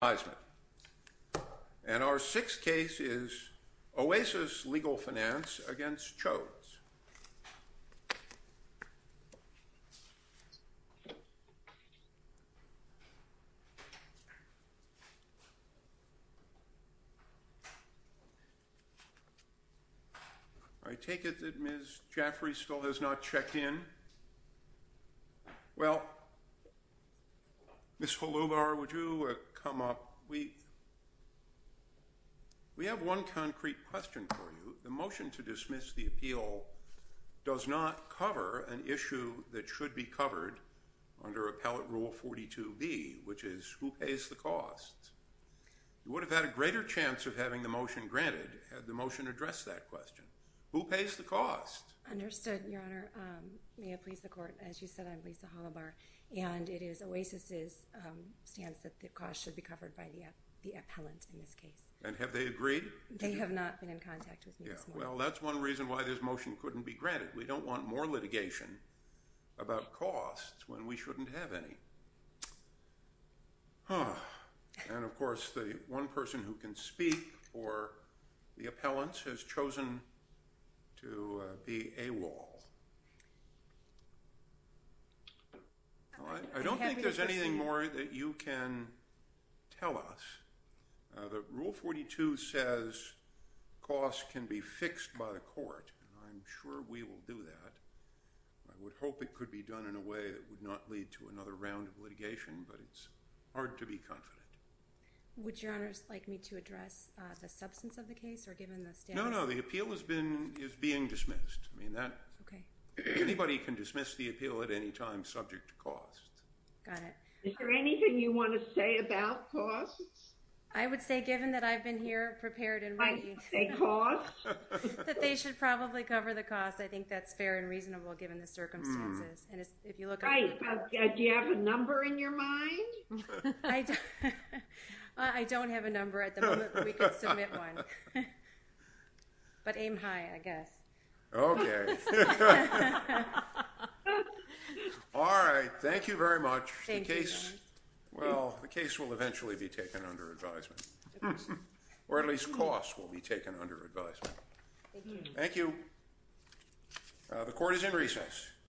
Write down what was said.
And our sixth case is Oasis Legal Finance v. Chodes. I take it that Ms. Jaffrey still has not checked in. Well, Ms. Holubar, would you come up? We have one concrete question for you. The motion to dismiss the appeal does not cover an issue that should be covered under Appellate Rule 42B, which is who pays the cost. You would have had a greater chance of having the motion granted had the motion addressed that question. Who pays the cost? Understood, Your Honor. May it please the Court, as you said, I'm Lisa Holubar. And it is Oasis's stance that the cost should be covered by the appellant in this case. And have they agreed? They have not been in contact with me this morning. Well, that's one reason why this motion couldn't be granted. We don't want more litigation about costs when we shouldn't have any. And, of course, the one person who can speak for the appellants has chosen to be AWOL. I don't think there's anything more that you can tell us. Rule 42 says costs can be fixed by the court. I'm sure we will do that. I would hope it could be done in a way that would not lead to another round of litigation, but it's hard to be confident. Would Your Honor like me to address the substance of the case, or given the status? No, no. The appeal is being dismissed. Anybody can dismiss the appeal at any time subject to cost. Got it. Is there anything you want to say about costs? I would say, given that I've been here prepared and ready. I didn't say costs. That they should probably cover the costs. I think that's fair and reasonable given the circumstances. Right. Do you have a number in your mind? I don't have a number at the moment, but we can submit one. But aim high, I guess. Okay. All right. Thank you very much. Thank you, Your Honor. Well, the case will eventually be taken under advisement. Or at least costs will be taken under advisement. Thank you. The court is in recess.